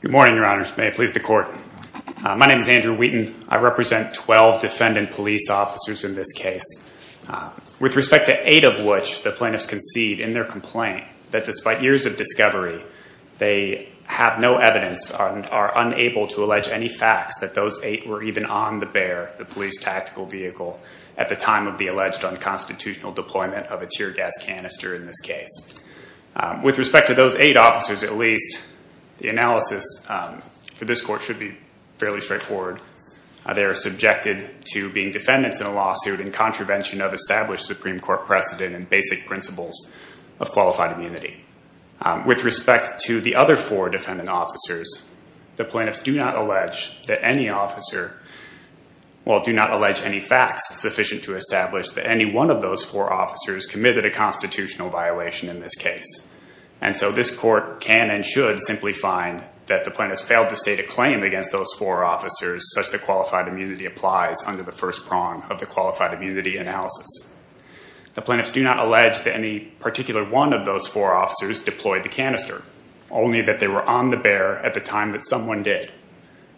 Good morning, your honors. May it please the court. My name is Andrew Wheaton. I represent 12 defendant police officers in this case, with respect to 8 of which the plaintiffs concede in their complaint that despite years of discovery, they have no evidence and are unable to allege any facts that those 8 were even on the bear, the police tactical vehicle, at the time of the alleged unconstitutional deployment of a tear gas canister in this case. With respect to those 8 officers at least, the analysis for this court should be fairly straightforward. They are subjected to being defendants in a lawsuit in contravention of established Supreme Court precedent and basic principles of qualified immunity. With respect to the other 4 defendant officers, the plaintiffs do not allege any facts sufficient to establish that any one of those 4 officers committed a constitutional violation in this case. And so this court can and should simply find that the plaintiffs failed to state a claim against those 4 officers such that qualified immunity applies under the first prong of the qualified immunity analysis. The plaintiffs do not allege that any particular one of those 4 officers deployed the canister, only that they were on the bear at the time that someone did.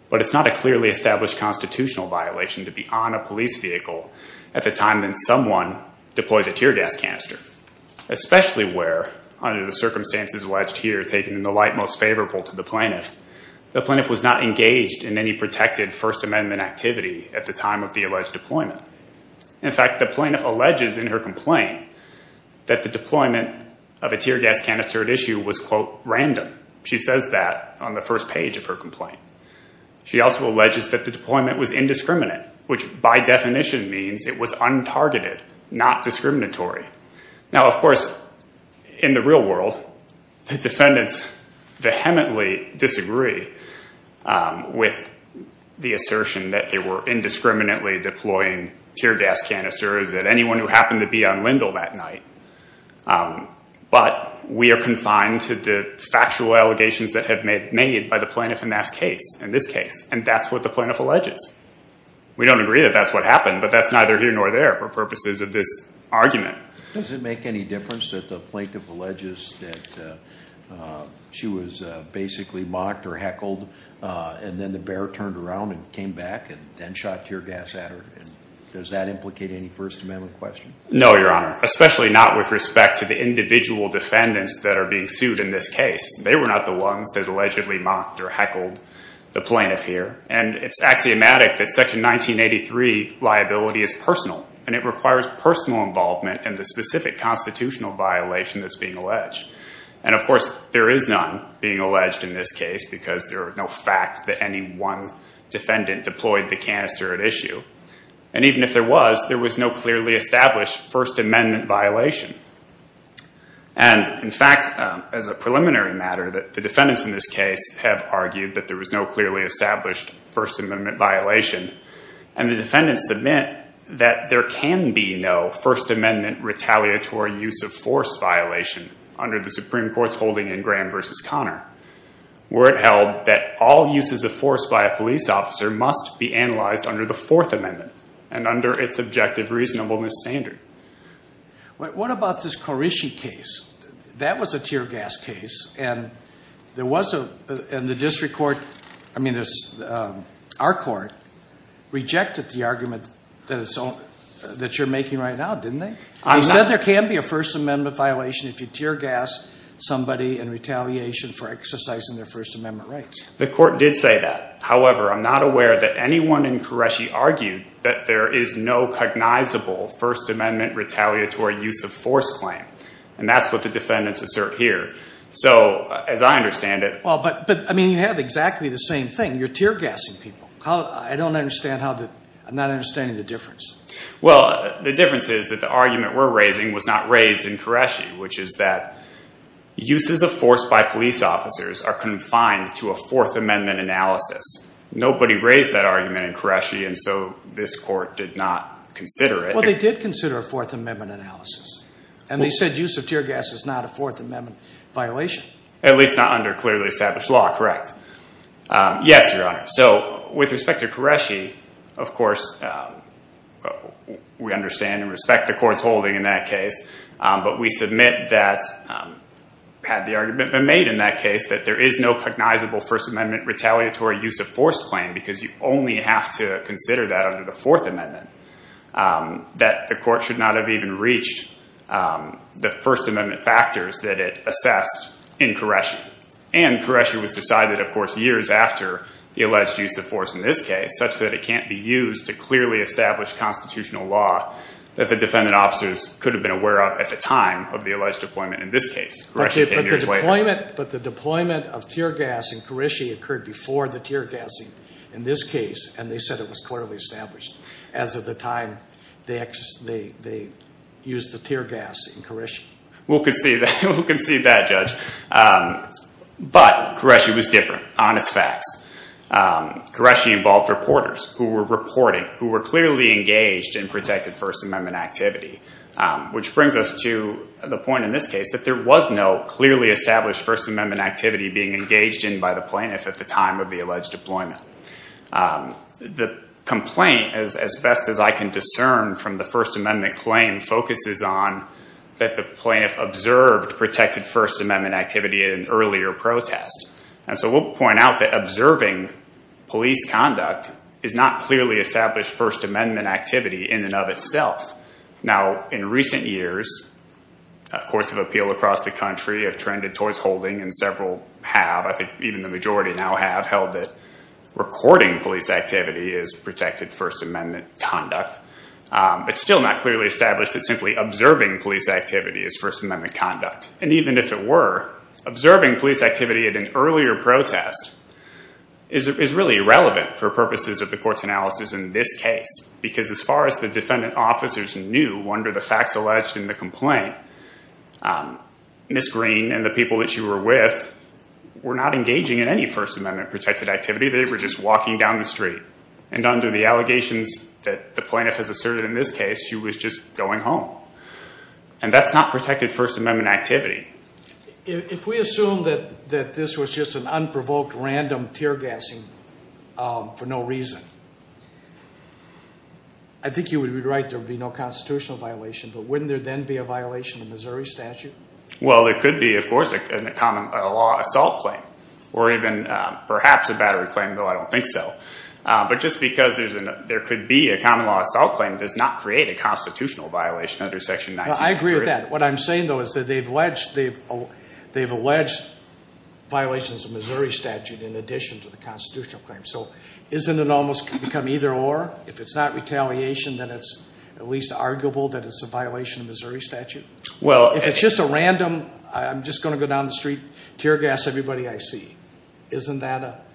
But it's not a clearly established constitutional violation to be on a police vehicle at the time that someone deploys a tear gas canister. Especially where, under the circumstances alleged here taken in the light most favorable to the plaintiff, the plaintiff was not engaged in any protected First Amendment activity at the time of the alleged deployment. In fact, the plaintiff alleges in her complaint that the deployment of a tear gas canister at issue was, quote, random. She says that on the first page of her complaint. She also alleges that the deployment was indiscriminate, which by definition means it was untargeted, not discriminatory. Now, of course, in the real world, the defendants vehemently disagree with the assertion that they were indiscriminately deploying tear gas canisters at anyone who happened to be on Lindle that night. But we are confined to the factual allegations that have been made by the plaintiff in this case. And that's what the plaintiff alleges. We don't agree that that's what happened, but that's neither here nor there for purposes of this argument. Does it make any difference that the plaintiff alleges that she was basically mocked or heckled, and then the bear turned around and came back and then shot tear gas at her? Does that implicate any First Amendment question? No, Your Honor. Especially not with respect to the individual defendants that are being sued in this case. They were not the ones that allegedly mocked or heckled the plaintiff here. And it's axiomatic that Section 1983 liability is personal. And it requires personal involvement in the specific constitutional violation that's being alleged. And, of course, there is none being alleged in this case because there are no facts that any one defendant deployed the canister at issue. And even if there was, there was no clearly established First Amendment violation. And, in fact, as a preliminary matter, the defendants in this case have argued that there was no clearly established First Amendment violation. And the defendants submit that there can be no First Amendment retaliatory use of force violation under the Supreme Court's holding in Graham v. Conner, where it held that all uses of force by a police officer must be analyzed under the Fourth Amendment and under its objective reasonableness standard. What about this Qureshi case? That was a tear gas case. And there was a, and the district court, I mean our court, rejected the argument that you're making right now, didn't they? They said there can be a First Amendment violation if you tear gas somebody in retaliation for exercising their First Amendment rights. The court did say that. However, I'm not aware that anyone in Qureshi argued that there is no cognizable First Amendment retaliatory use of force claim. And that's what the defendants assert here. So, as I understand it. Well, but, I mean, you have exactly the same thing. You're tear gassing people. I don't understand how the, I'm not understanding the difference. Well, the difference is that the argument we're raising was not raised in Qureshi, which is that uses of force by police officers are confined to a Fourth Amendment analysis. Nobody raised that argument in Qureshi, and so this court did not consider it. Well, they did consider a Fourth Amendment analysis. And they said use of tear gas is not a Fourth Amendment violation. At least not under clearly established law, correct. Yes, Your Honor. So, with respect to Qureshi, of course, we understand and respect the court's holding in that case. But we submit that, had the argument been made in that case, that there is no cognizable First Amendment retaliatory use of force claim. Because you only have to consider that under the Fourth Amendment. That the court should not have even reached the First Amendment factors that it assessed in Qureshi. And Qureshi was decided, of course, years after the alleged use of force in this case, such that it can't be used to clearly establish constitutional law that the defendant officers could have been aware of at the time of the alleged deployment in this case. But the deployment of tear gas in Qureshi occurred before the tear gassing in this case, and they said it was clearly established. As of the time they used the tear gas in Qureshi. We'll concede that, Judge. But Qureshi was different on its facts. Qureshi involved reporters who were reporting, who were clearly engaged in protected First Amendment activity. Which brings us to the point in this case that there was no clearly established First Amendment activity being engaged in by the plaintiff at the time of the alleged deployment. The complaint, as best as I can discern from the First Amendment claim, focuses on that the plaintiff observed protected First Amendment activity in an earlier protest. And so we'll point out that observing police conduct is not clearly established First Amendment activity in and of itself. Now, in recent years, courts of appeal across the country have trended towards holding, and several have, I think even the majority now have, held that recording police activity is protected First Amendment conduct. But still not clearly established that simply observing police activity is First Amendment conduct. And even if it were, observing police activity at an earlier protest is really irrelevant for purposes of the court's analysis in this case. Because as far as the defendant officers knew, under the facts alleged in the complaint, Ms. Green and the people that she were with were not engaging in any First Amendment protected activity. They were just walking down the street. And under the allegations that the plaintiff has asserted in this case, she was just going home. And that's not protected First Amendment activity. If we assume that this was just an unprovoked random tear gassing for no reason, I think you would be right. There would be no constitutional violation. But wouldn't there then be a violation of Missouri statute? Well, there could be, of course, a common law assault claim. Or even perhaps a battery claim, though I don't think so. But just because there could be a common law assault claim does not create a constitutional violation under Section 19. I agree with that. What I'm saying, though, is that they've alleged violations of Missouri statute in addition to the constitutional claim. So isn't it almost become either or? If it's not retaliation, then it's at least arguable that it's a violation of Missouri statute? If it's just a random, I'm just going to go down the street, tear gas everybody I see, isn't that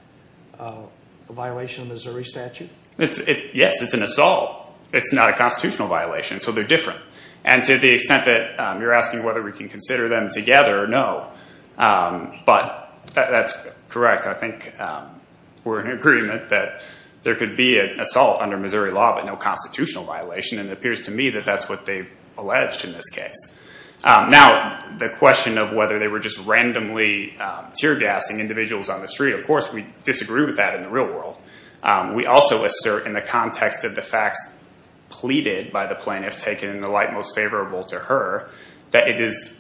a violation of Missouri statute? Yes, it's an assault. It's not a constitutional violation. So they're different. And to the extent that you're asking whether we can consider them together, no. But that's correct. I think we're in agreement that there could be an assault under Missouri law, but no constitutional violation. And it appears to me that that's what they've alleged in this case. Now, the question of whether they were just randomly tear gassing individuals on the street, of course, we disagree with that in the real world. We also assert in the context of the facts pleaded by the plaintiff, taken in the light most favorable to her, that it is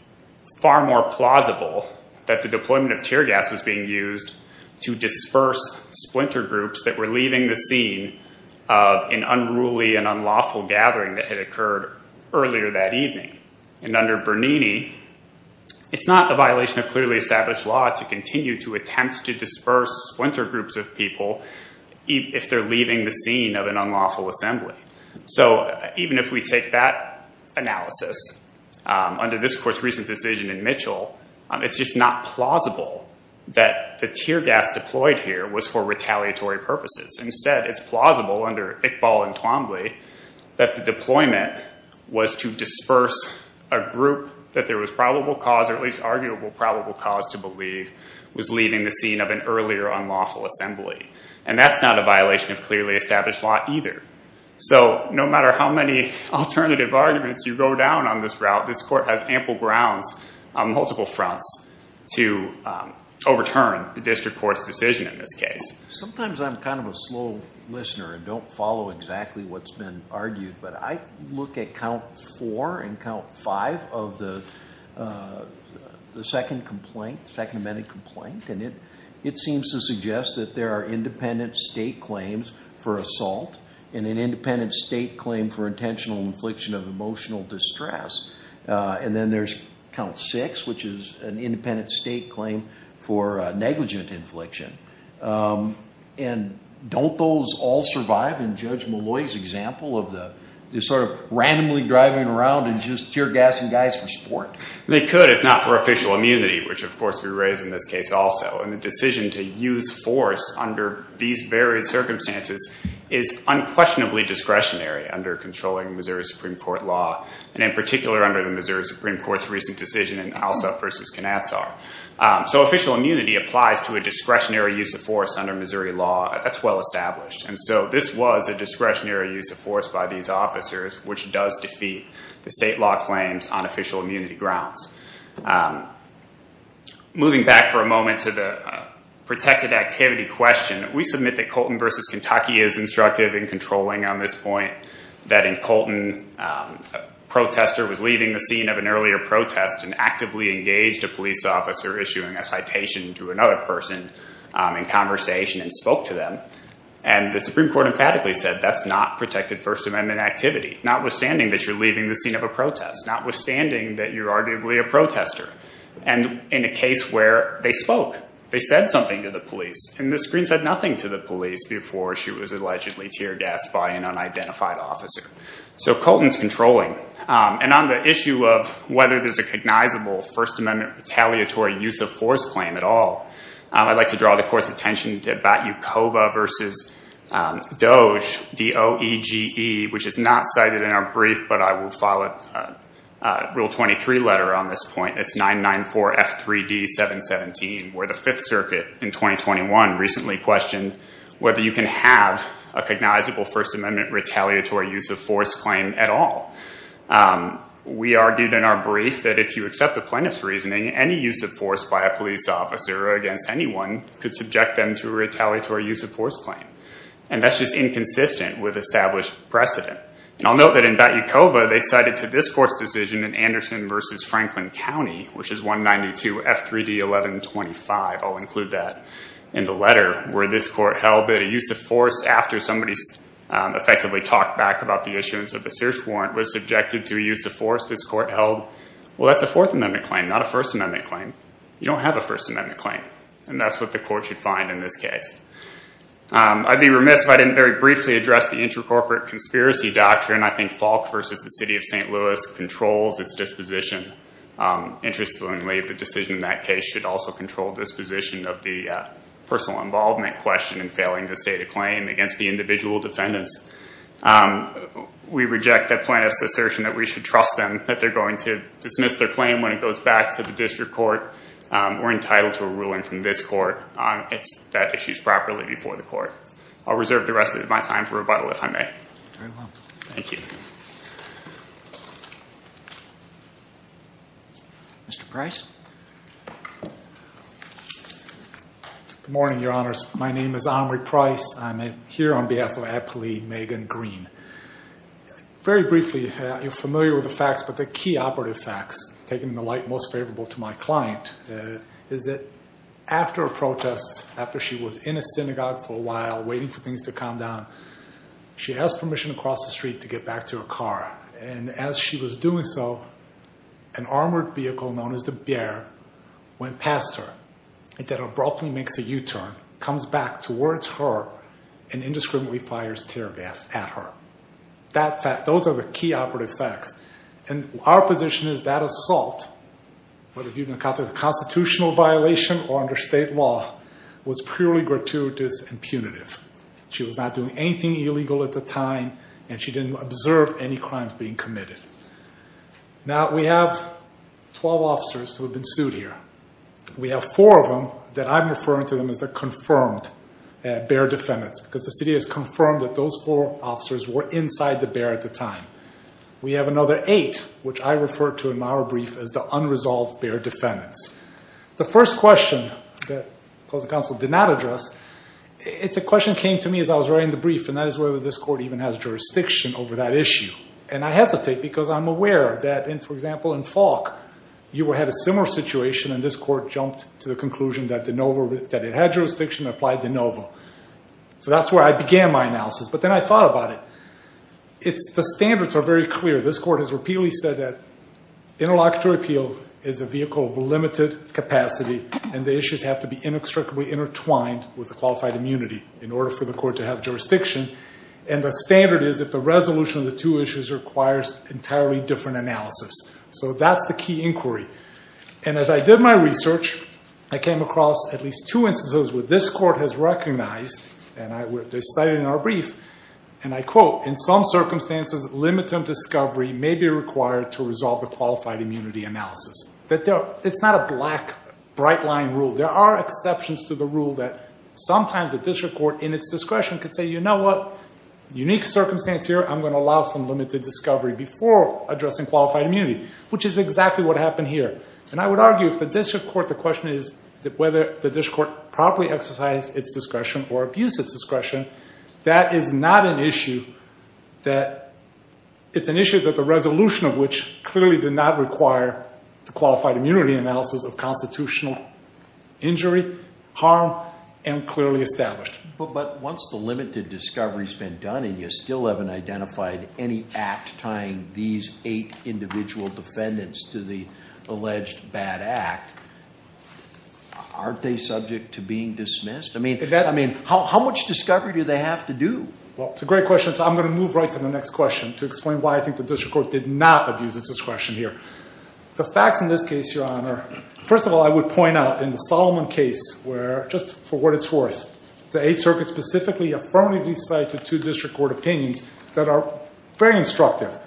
far more plausible that the deployment of tear gas was being used to disperse splinter groups that were leaving the scene of an unruly and unlawful gathering that had occurred earlier that evening. And under Bernini, it's not a violation of clearly established law to continue to attempt to disperse splinter groups of people if they're leaving the scene of an unlawful assembly. So even if we take that analysis under this court's recent decision in Mitchell, it's just not plausible that the tear gas deployed here was for retaliatory purposes. Instead, it's plausible under Iqbal and Twombly that the deployment was to disperse a group that there was probable cause or at least arguable probable cause to believe was leaving the scene of an earlier unlawful assembly. And that's not a violation of clearly established law either. So no matter how many alternative arguments you go down on this route, this court has ample grounds on multiple fronts to overturn the district court's decision in this case. Sometimes I'm kind of a slow listener and don't follow exactly what's been argued. But I look at count four and count five of the second amendment complaint. And it seems to suggest that there are independent state claims for assault and an independent state claim for intentional infliction of emotional distress. And then there's count six, which is an independent state claim for negligent infliction. And don't those all survive in Judge Malloy's example of the sort of randomly driving around and just tear gassing guys for sport? They could if not for official immunity, which of course we raise in this case also. And the decision to use force under these various circumstances is unquestionably discretionary under controlling Missouri Supreme Court law. And in particular under the Missouri Supreme Court's recent decision in Alsop versus Knatsar. So official immunity applies to a discretionary use of force under Missouri law. That's well established. And so this was a discretionary use of force by these officers, which does defeat the state law claims on official immunity grounds. Moving back for a moment to the protected activity question, we submit that Colton versus Kentucky is instructive in controlling on this point. That in Colton, a protester was leaving the scene of an earlier protest and actively engaged a police officer issuing a citation to another person in conversation and spoke to them. And the Supreme Court emphatically said that's not protected First Amendment activity, notwithstanding that you're leaving the scene of a protest, notwithstanding that you're arguably a protester. And in a case where they spoke, they said something to the police. And Ms. Greene said nothing to the police before she was allegedly tear gassed by an unidentified officer. So Colton's controlling. And on the issue of whether there's a cognizable First Amendment retaliatory use of force claim at all, I'd like to draw the court's attention to Batyukova versus Doege, D-O-E-G-E, which is not cited in our brief, but I will file a Rule 23 letter on this point. It's 994F3D717, where the Fifth Circuit in 2021 recently questioned whether you can have a cognizable First Amendment retaliatory use of force claim at all. We argued in our brief that if you accept the plaintiff's reasoning, any use of force by a police officer or against anyone could subject them to a retaliatory use of force claim. And that's just inconsistent with established precedent. And I'll note that in Batyukova, they cited to this court's decision in Anderson versus Franklin County, which is 192F3D1125. I'll include that in the letter, where this court held that a use of force after somebody effectively talked back about the issuance of a search warrant was subjected to a use of force. This court held, well, that's a Fourth Amendment claim, not a First Amendment claim. You don't have a First Amendment claim. And that's what the court should find in this case. I'd be remiss if I didn't very briefly address the intracorporate conspiracy doctrine. I think Falk versus the City of St. Louis controls its disposition. Interestingly, the decision in that case should also control disposition of the personal involvement question in failing to state a claim against the individual defendants. We reject the plaintiff's assertion that we should trust them, that they're going to dismiss their claim when it goes back to the district court. We're entitled to a ruling from this court that issues properly before the court. I'll reserve the rest of my time for rebuttal, if I may. Very well. Thank you. Mr. Price? Good morning, Your Honors. My name is Omri Price. I'm here on behalf of Appellee Megan Green. Very briefly, you're familiar with the facts, but the key operative facts, taking the light most favorable to my client, is that after a protest, after she was in a synagogue for a while, waiting for things to calm down, she has permission to cross the street to get back to her car. And as she was doing so, an armored vehicle known as the Bair went past her. It then abruptly makes a U-turn, comes back towards her, and indiscriminately fires tear gas at her. Those are the key operative facts. And our position is that assault, whether viewed in a constitutional violation or under state law, was purely gratuitous and punitive. She was not doing anything illegal at the time, and she didn't observe any crimes being committed. Now, we have 12 officers who have been sued here. We have four of them that I'm referring to them as the confirmed Bair defendants, because the city has confirmed that those four officers were inside the Bair at the time. We have another eight, which I refer to in my brief as the unresolved Bair defendants. The first question that the opposing counsel did not address, it's a question that came to me as I was writing the brief, and that is whether this court even has jurisdiction over that issue. And I hesitate because I'm aware that, for example, in Falk, you had a similar situation, and this court jumped to the conclusion that it had jurisdiction and applied de novo. So that's where I began my analysis, but then I thought about it. The standards are very clear. This court has repeatedly said that interlocutory appeal is a vehicle of limited capacity, and the issues have to be inextricably intertwined with the qualified immunity in order for the court to have jurisdiction. And the standard is if the resolution of the two issues requires entirely different analysis. So that's the key inquiry. And as I did my research, I came across at least two instances where this court has recognized, and I cited in our brief, and I quote, in some circumstances, limited discovery may be required to resolve the qualified immunity analysis. It's not a black, bright-line rule. There are exceptions to the rule that sometimes the district court, in its discretion, could say, you know what, unique circumstance here, I'm going to allow some limited discovery before addressing qualified immunity, which is exactly what happened here. And I would argue if the district court, the question is whether the district court properly exercised its discretion or abused its discretion. That is not an issue that, it's an issue that the resolution of which clearly did not require the qualified immunity analysis of constitutional injury, harm, and clearly established. But once the limited discovery has been done and you still haven't identified any act tying these eight individual defendants to the alleged bad act, aren't they subject to being dismissed? I mean, how much discovery do they have to do? Well, it's a great question. So I'm going to move right to the next question to explain why I think the district court did not abuse its discretion here. The facts in this case, Your Honor, first of all, I would point out in the Solomon case where, just for what it's worth, the Eighth Circuit specifically affirmatively cited two district court opinions that are very instructive.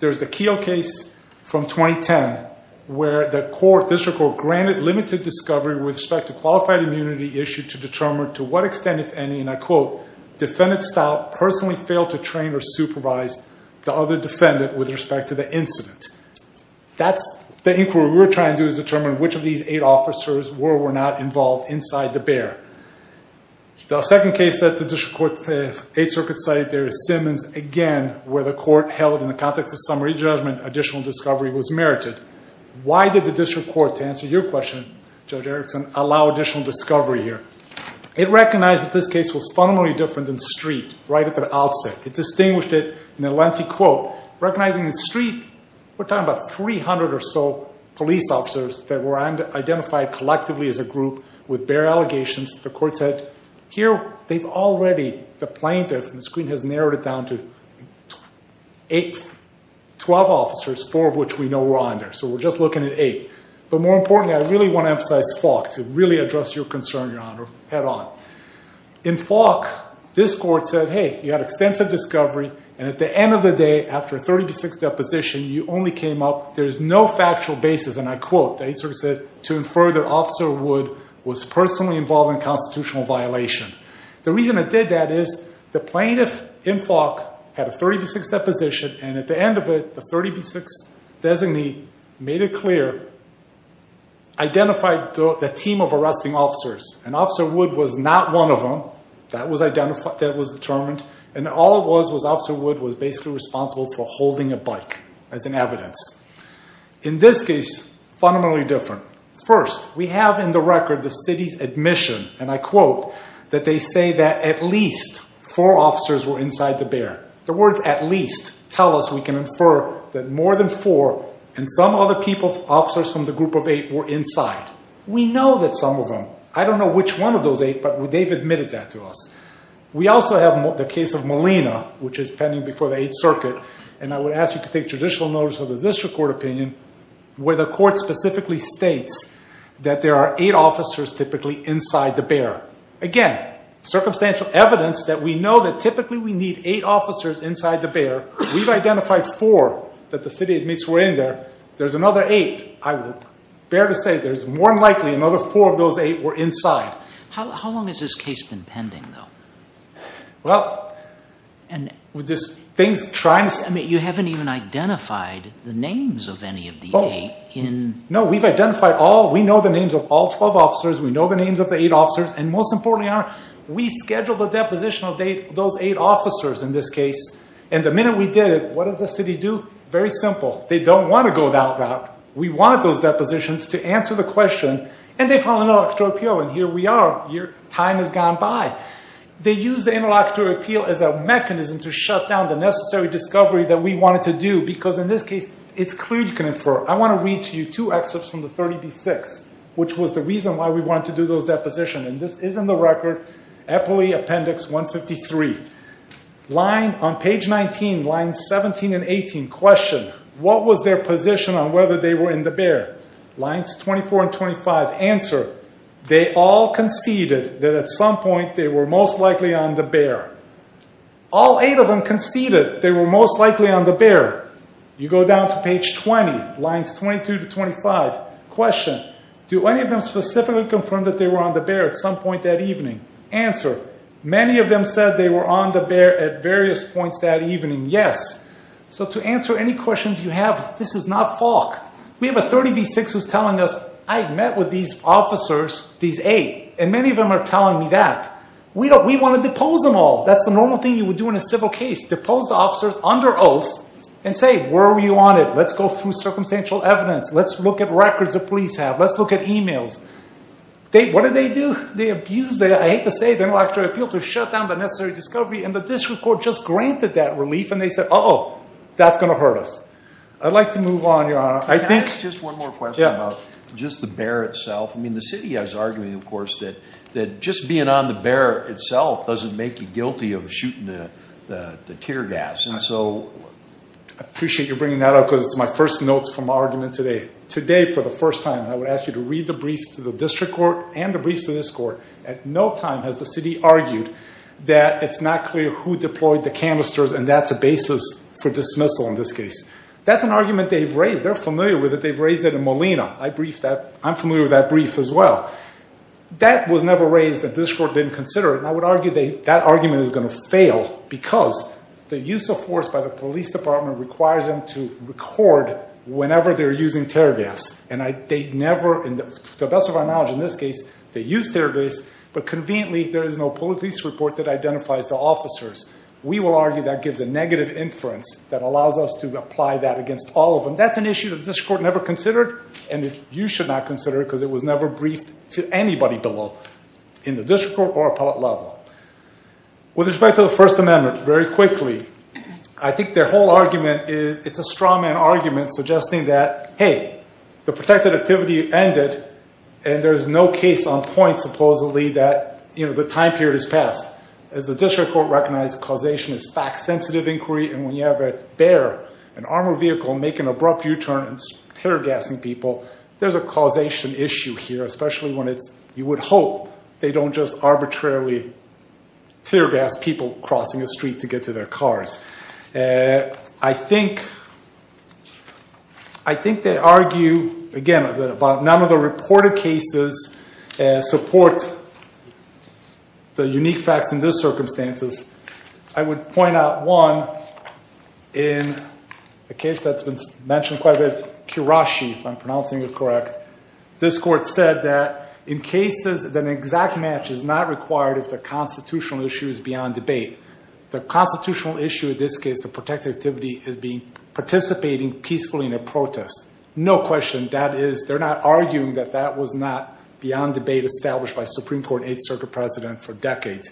There's the Keough case from 2010 where the court, district court, granted limited discovery with respect to qualified immunity issued to determine to what extent, if any, and I quote, defendant style personally failed to train or supervise the other defendant with respect to the incident. That's the inquiry we're trying to do is determine which of these eight officers were or were not involved inside the bear. The second case that the district court Eighth Circuit cited there is Simmons, again, where the court held in the context of summary judgment additional discovery was merited. Why did the district court, to answer your question, Judge Erickson, allow additional discovery here? It recognized that this case was fundamentally different than Street right at the outset. It distinguished it in a lengthy quote. Recognizing that Street, we're talking about 300 or so police officers that were identified collectively as a group with bear allegations. The court said, here, they've already, the plaintiff, and the screen has narrowed it down to eight, 12 officers, four of which we know were on there. So we're just looking at eight. But more importantly, I really want to emphasize Falk to really address your concern, Your Honor, head on. In Falk, this court said, hey, you had extensive discovery. And at the end of the day, after a 30 v. 6 deposition, you only came up, there's no factual basis. And I quote, the Eighth Circuit said, to infer that Officer Wood was personally involved in a constitutional violation. The reason it did that is the plaintiff in Falk had a 30 v. 6 deposition. And at the end of it, the 30 v. 6 designee made it clear, identified the team of arresting officers. And Officer Wood was not one of them. That was determined. And all it was, was Officer Wood was basically responsible for holding a bike as an evidence. In this case, fundamentally different. First, we have in the record the city's admission, and I quote, that they say that at least four officers were inside the bear. The words at least tell us we can infer that more than four and some other people, officers from the group of eight, were inside. We know that some of them, I don't know which one of those eight, but they've admitted that to us. We also have the case of Molina, which is pending before the Eighth Circuit. And I would ask you to take judicial notice of the district court opinion where the court specifically states that there are eight officers typically inside the bear. Again, circumstantial evidence that we know that typically we need eight officers inside the bear. We've identified four that the city admits were in there. There's another eight. I would bear to say there's more than likely another four of those eight were inside. How long has this case been pending, though? Well, with this thing trying to- I mean, you haven't even identified the names of any of the eight in- No, we've identified all. We know the names of all 12 officers. We know the names of the eight officers. And most importantly, we scheduled the deposition of those eight officers in this case. And the minute we did it, what did the city do? Very simple. They don't want to go that route. We wanted those depositions to answer the question. And they filed an electoral appeal, and here we are. Time has gone by. They used the electoral appeal as a mechanism to shut down the necessary discovery that we wanted to do. Because in this case, it's clear you can infer. I want to read to you two excerpts from the 30B-6, which was the reason why we wanted to do those depositions. And this is in the record, Eppley Appendix 153. On page 19, lines 17 and 18, question. What was their position on whether they were in the bear? Lines 24 and 25, answer. They all conceded that at some point they were most likely on the bear. All eight of them conceded they were most likely on the bear. You go down to page 20, lines 22 to 25, question. Do any of them specifically confirm that they were on the bear at some point that evening? Answer. Many of them said they were on the bear at various points that evening. Yes. So to answer any questions you have, this is not Falk. We have a 30B-6 who's telling us, I met with these officers, these eight, and many of them are telling me that. We want to depose them all. That's the normal thing you would do in a civil case. Depose the officers under oath and say, where were you on it? Let's go through circumstantial evidence. Let's look at records the police have. Let's look at e-mails. What did they do? They abused, I hate to say it, the intellectual appeal to shut down the necessary discovery, and the district court just granted that relief, and they said, uh-oh, that's going to hurt us. I'd like to move on, Your Honor. Can I ask just one more question about just the bear itself? I mean, the city is arguing, of course, that just being on the bear itself doesn't make you guilty of shooting the tear gas. And so I appreciate you bringing that up because it's my first notes from my argument today. Today, for the first time, I would ask you to read the briefs to the district court and the briefs to this court. At no time has the city argued that it's not clear who deployed the canisters, and that's a basis for dismissal in this case. That's an argument they've raised. They're familiar with it. They've raised it in Molina. I'm familiar with that brief as well. That was never raised that the district court didn't consider, and I would argue that that argument is going to fail because the use of force by the police department requires them to record whenever they're using tear gas. To the best of our knowledge, in this case, they used tear gas, but conveniently, there is no police report that identifies the officers. We will argue that gives a negative inference that allows us to apply that against all of them. That's an issue that the district court never considered, and you should not consider it because it was never briefed to anybody below, in the district court or appellate level. With respect to the First Amendment, very quickly, I think their whole argument is it's a straw man argument suggesting that, hey, the protected activity ended, and there's no case on point, supposedly, that the time period has passed. As the district court recognized, causation is fact-sensitive inquiry, and when you have a bear, an armored vehicle, make an abrupt U-turn and it's tear gassing people, there's a causation issue here, especially when you would hope they don't just arbitrarily tear gas people crossing the street to get to their cars. I think they argue, again, about none of the reported cases support the unique facts in this circumstances. I would point out, one, in a case that's been mentioned quite a bit, Kirashi, if I'm pronouncing it correct, this court said that in cases, an exact match is not required if the constitutional issue is beyond debate. The constitutional issue in this case, the protected activity, is participating peacefully in a protest. No question. That is, they're not arguing that that was not beyond debate established by Supreme Court and 8th Circuit President for decades.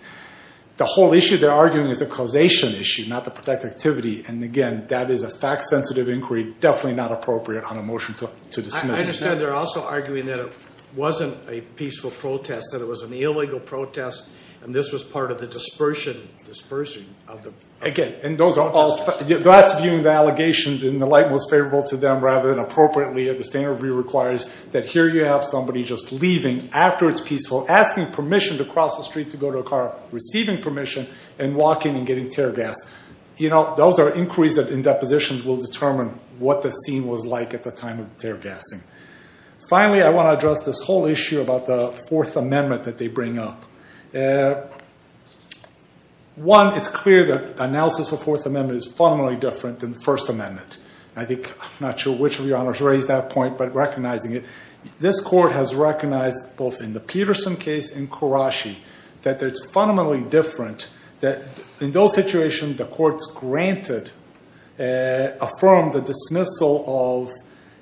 The whole issue they're arguing is a causation issue, not the protected activity. And, again, that is a fact-sensitive inquiry, definitely not appropriate on a motion to dismiss. I understand they're also arguing that it wasn't a peaceful protest, that it was an illegal protest, and this was part of the dispersion of the protesters. Again, that's viewing the allegations in the light most favorable to them rather than appropriately. The standard review requires that here you have somebody just leaving after it's peaceful, asking permission to cross the street to go to a car, receiving permission, and walking and getting tear gassed. Those are inquiries that, in depositions, will determine what the scene was like at the time of tear gassing. Finally, I want to address this whole issue about the Fourth Amendment that they bring up. One, it's clear that analysis of the Fourth Amendment is fundamentally different than the First Amendment. I think, I'm not sure which of your honors raised that point, but recognizing it, this court has recognized, both in the Peterson case and Karashi, that it's fundamentally different, that in those situations the courts granted, affirmed the dismissal of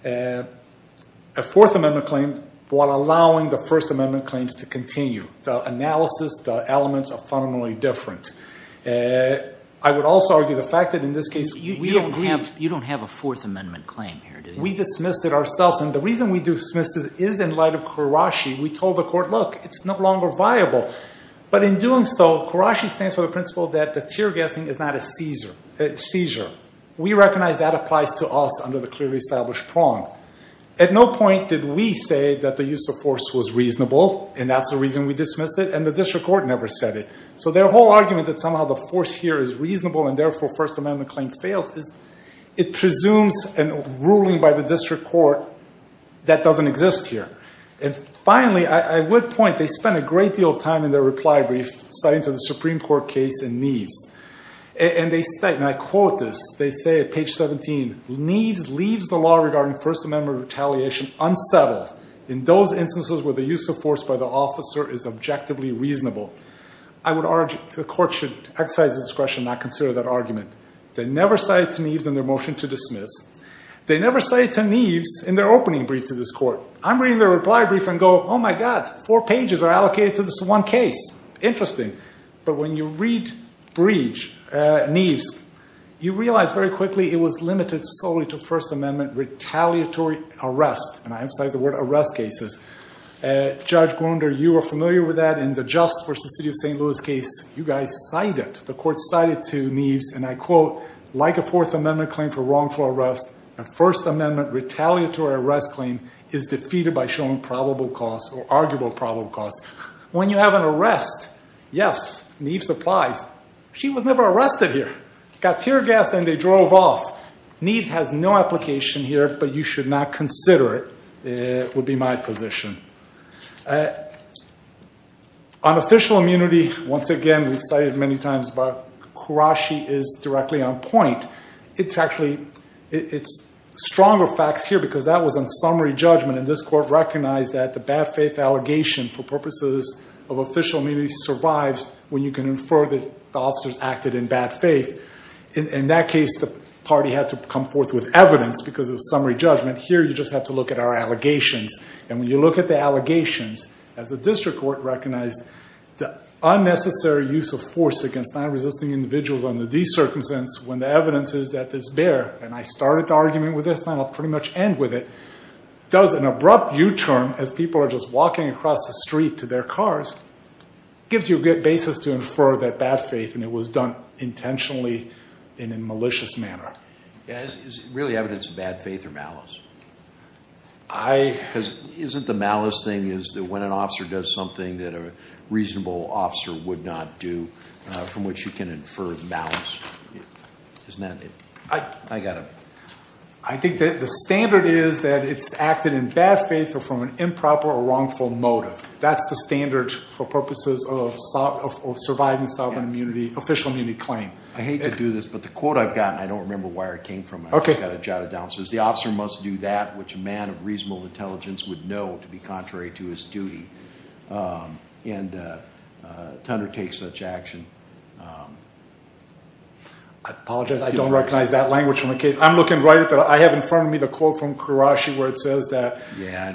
a Fourth Amendment claim while allowing the First Amendment claims to continue. The analysis, the elements are fundamentally different. I would also argue the fact that in this case we don't have- You don't have a Fourth Amendment claim here, do you? We dismissed it ourselves, and the reason we dismissed it is in light of Karashi. We told the court, look, it's no longer viable. But in doing so, Karashi stands for the principle that the tear gassing is not a seizure. We recognize that applies to us under the clearly established prong. At no point did we say that the use of force was reasonable, and that's the reason we dismissed it, and the district court never said it. So their whole argument that somehow the force here is reasonable and therefore First Amendment claim fails is it presumes a ruling by the district court that doesn't exist here. And finally, I would point, they spent a great deal of time in their reply brief citing to the Supreme Court case in Neves. And they state, and I quote this, they say at page 17, Neves leaves the law regarding First Amendment retaliation unsettled in those instances where the use of force by the officer is objectively reasonable. I would urge the court should exercise its discretion not consider that argument. They never cited to Neves in their motion to dismiss. They never cited to Neves in their opening brief to this court. I'm reading their reply brief and go, oh, my God, four pages are allocated to this one case. Interesting. But when you read Breach, Neves, you realize very quickly it was limited solely to First Amendment retaliatory arrest. And I emphasize the word arrest cases. Judge Gwinder, you are familiar with that in the Just v. City of St. Louis case. You guys cited, the court cited to Neves, and I quote, like a Fourth Amendment claim for wrongful arrest, a First Amendment retaliatory arrest claim is defeated by showing probable cause or arguable probable cause. When you have an arrest, yes, Neves applies. She was never arrested here. Got tear gassed and they drove off. Neves has no application here, but you should not consider it would be my position. On official immunity, once again, we've cited many times, but Kurashi is directly on point. It's actually, it's stronger facts here because that was on summary judgment, and this court recognized that the bad faith allegation for purposes of official immunity survives when you can infer that the officers acted in bad faith. In that case, the party had to come forth with evidence because it was summary judgment. Here you just have to look at our allegations. And when you look at the allegations, as the district court recognized, the unnecessary use of force against non-resisting individuals under these circumstances when the evidence is that this bear, and I started the argument with this and I'll pretty much end with it, does an abrupt U-turn as people are just walking across the street to their cars, gives you a good basis to infer that bad faith and it was done intentionally in a malicious manner. Is it really evidence of bad faith or malice? Isn't the malice thing is that when an officer does something that a reasonable officer would not do from which you can infer malice? Isn't that it? I got it. I think that the standard is that it's acted in bad faith or from an improper or wrongful motive. That's the standard for purposes of surviving sovereign immunity, official immunity claim. I hate to do this, but the quote I've got, and I don't remember where it came from, I just got it jotted down, says, The officer must do that which a man of reasonable intelligence would know to be contrary to his duty. And to undertake such action. I apologize, I don't recognize that language from the case. I'm looking right at the, I have in front of me the quote from Karashi where it says that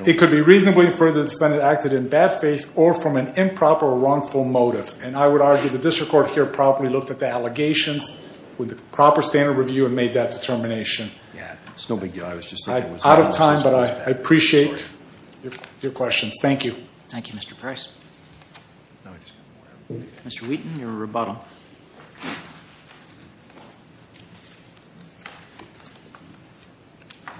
it could be reasonably inferred that the defendant acted in bad faith or from an improper or wrongful motive. And I would argue the district court here probably looked at the allegations with the proper standard review and made that determination. It's no big deal. I was just thinking it was malice. Out of time, but I appreciate your questions. Thank you. Thank you, Mr. Price. Mr. Wheaton, your rebuttal.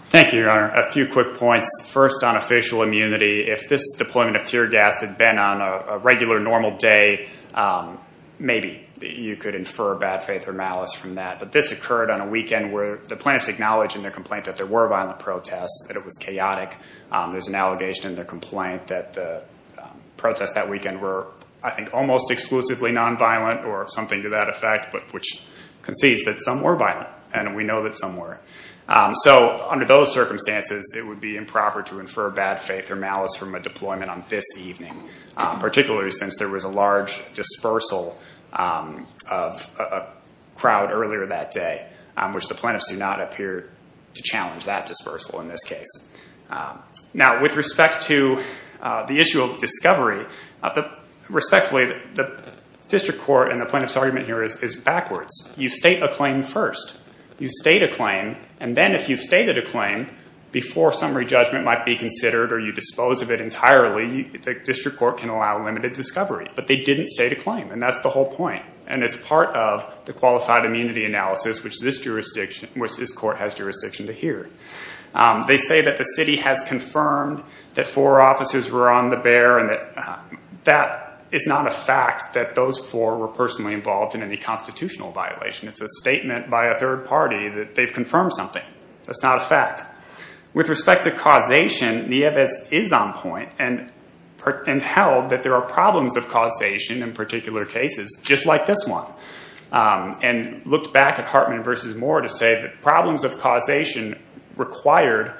Thank you, Your Honor. A few quick points. First, on official immunity, if this deployment of tear gas had been on a regular normal day, maybe you could infer bad faith or malice from that. But this occurred on a weekend where the plaintiffs acknowledged in their complaint that there were violent protests, that it was chaotic. There's an allegation in their complaint that the protests that weekend were, I think, almost exclusively nonviolent or something to that effect, which concedes that some were violent and we know that some were. So under those circumstances, it would be improper to infer bad faith or malice from a deployment on this evening, particularly since there was a large dispersal of a crowd earlier that day, which the plaintiffs do not appear to challenge that dispersal in this case. Now, with respect to the issue of discovery, respectfully, the district court and the plaintiff's argument here is backwards. You state a claim first. You state a claim, and then if you've stated a claim, before summary judgment might be considered or you dispose of it entirely, the district court can allow limited discovery. But they didn't state a claim, and that's the whole point. And it's part of the qualified immunity analysis, which this court has jurisdiction to hear. They say that the city has confirmed that four officers were on the bear, and that is not a fact that those four were personally involved in any constitutional violation. It's a statement by a third party that they've confirmed something. That's not a fact. With respect to causation, Nieves is on point and held that there are problems of causation in particular cases, just like this one, and looked back at Hartman v. Moore to say that problems of causation required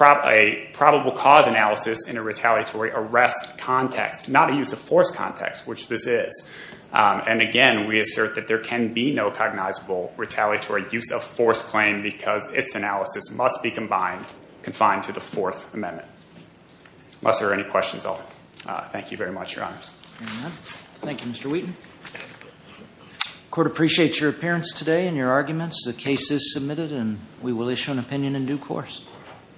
a probable cause analysis in a retaliatory arrest context, not a use of force context, which this is. And again, we assert that there can be no cognizable retaliatory use of force claim because its analysis must be confined to the Fourth Amendment. Unless there are any questions, I'll thank you very much, Your Honors. Thank you, Mr. Wheaton. The court appreciates your appearance today and your arguments. The case is submitted, and we will issue an opinion in due course.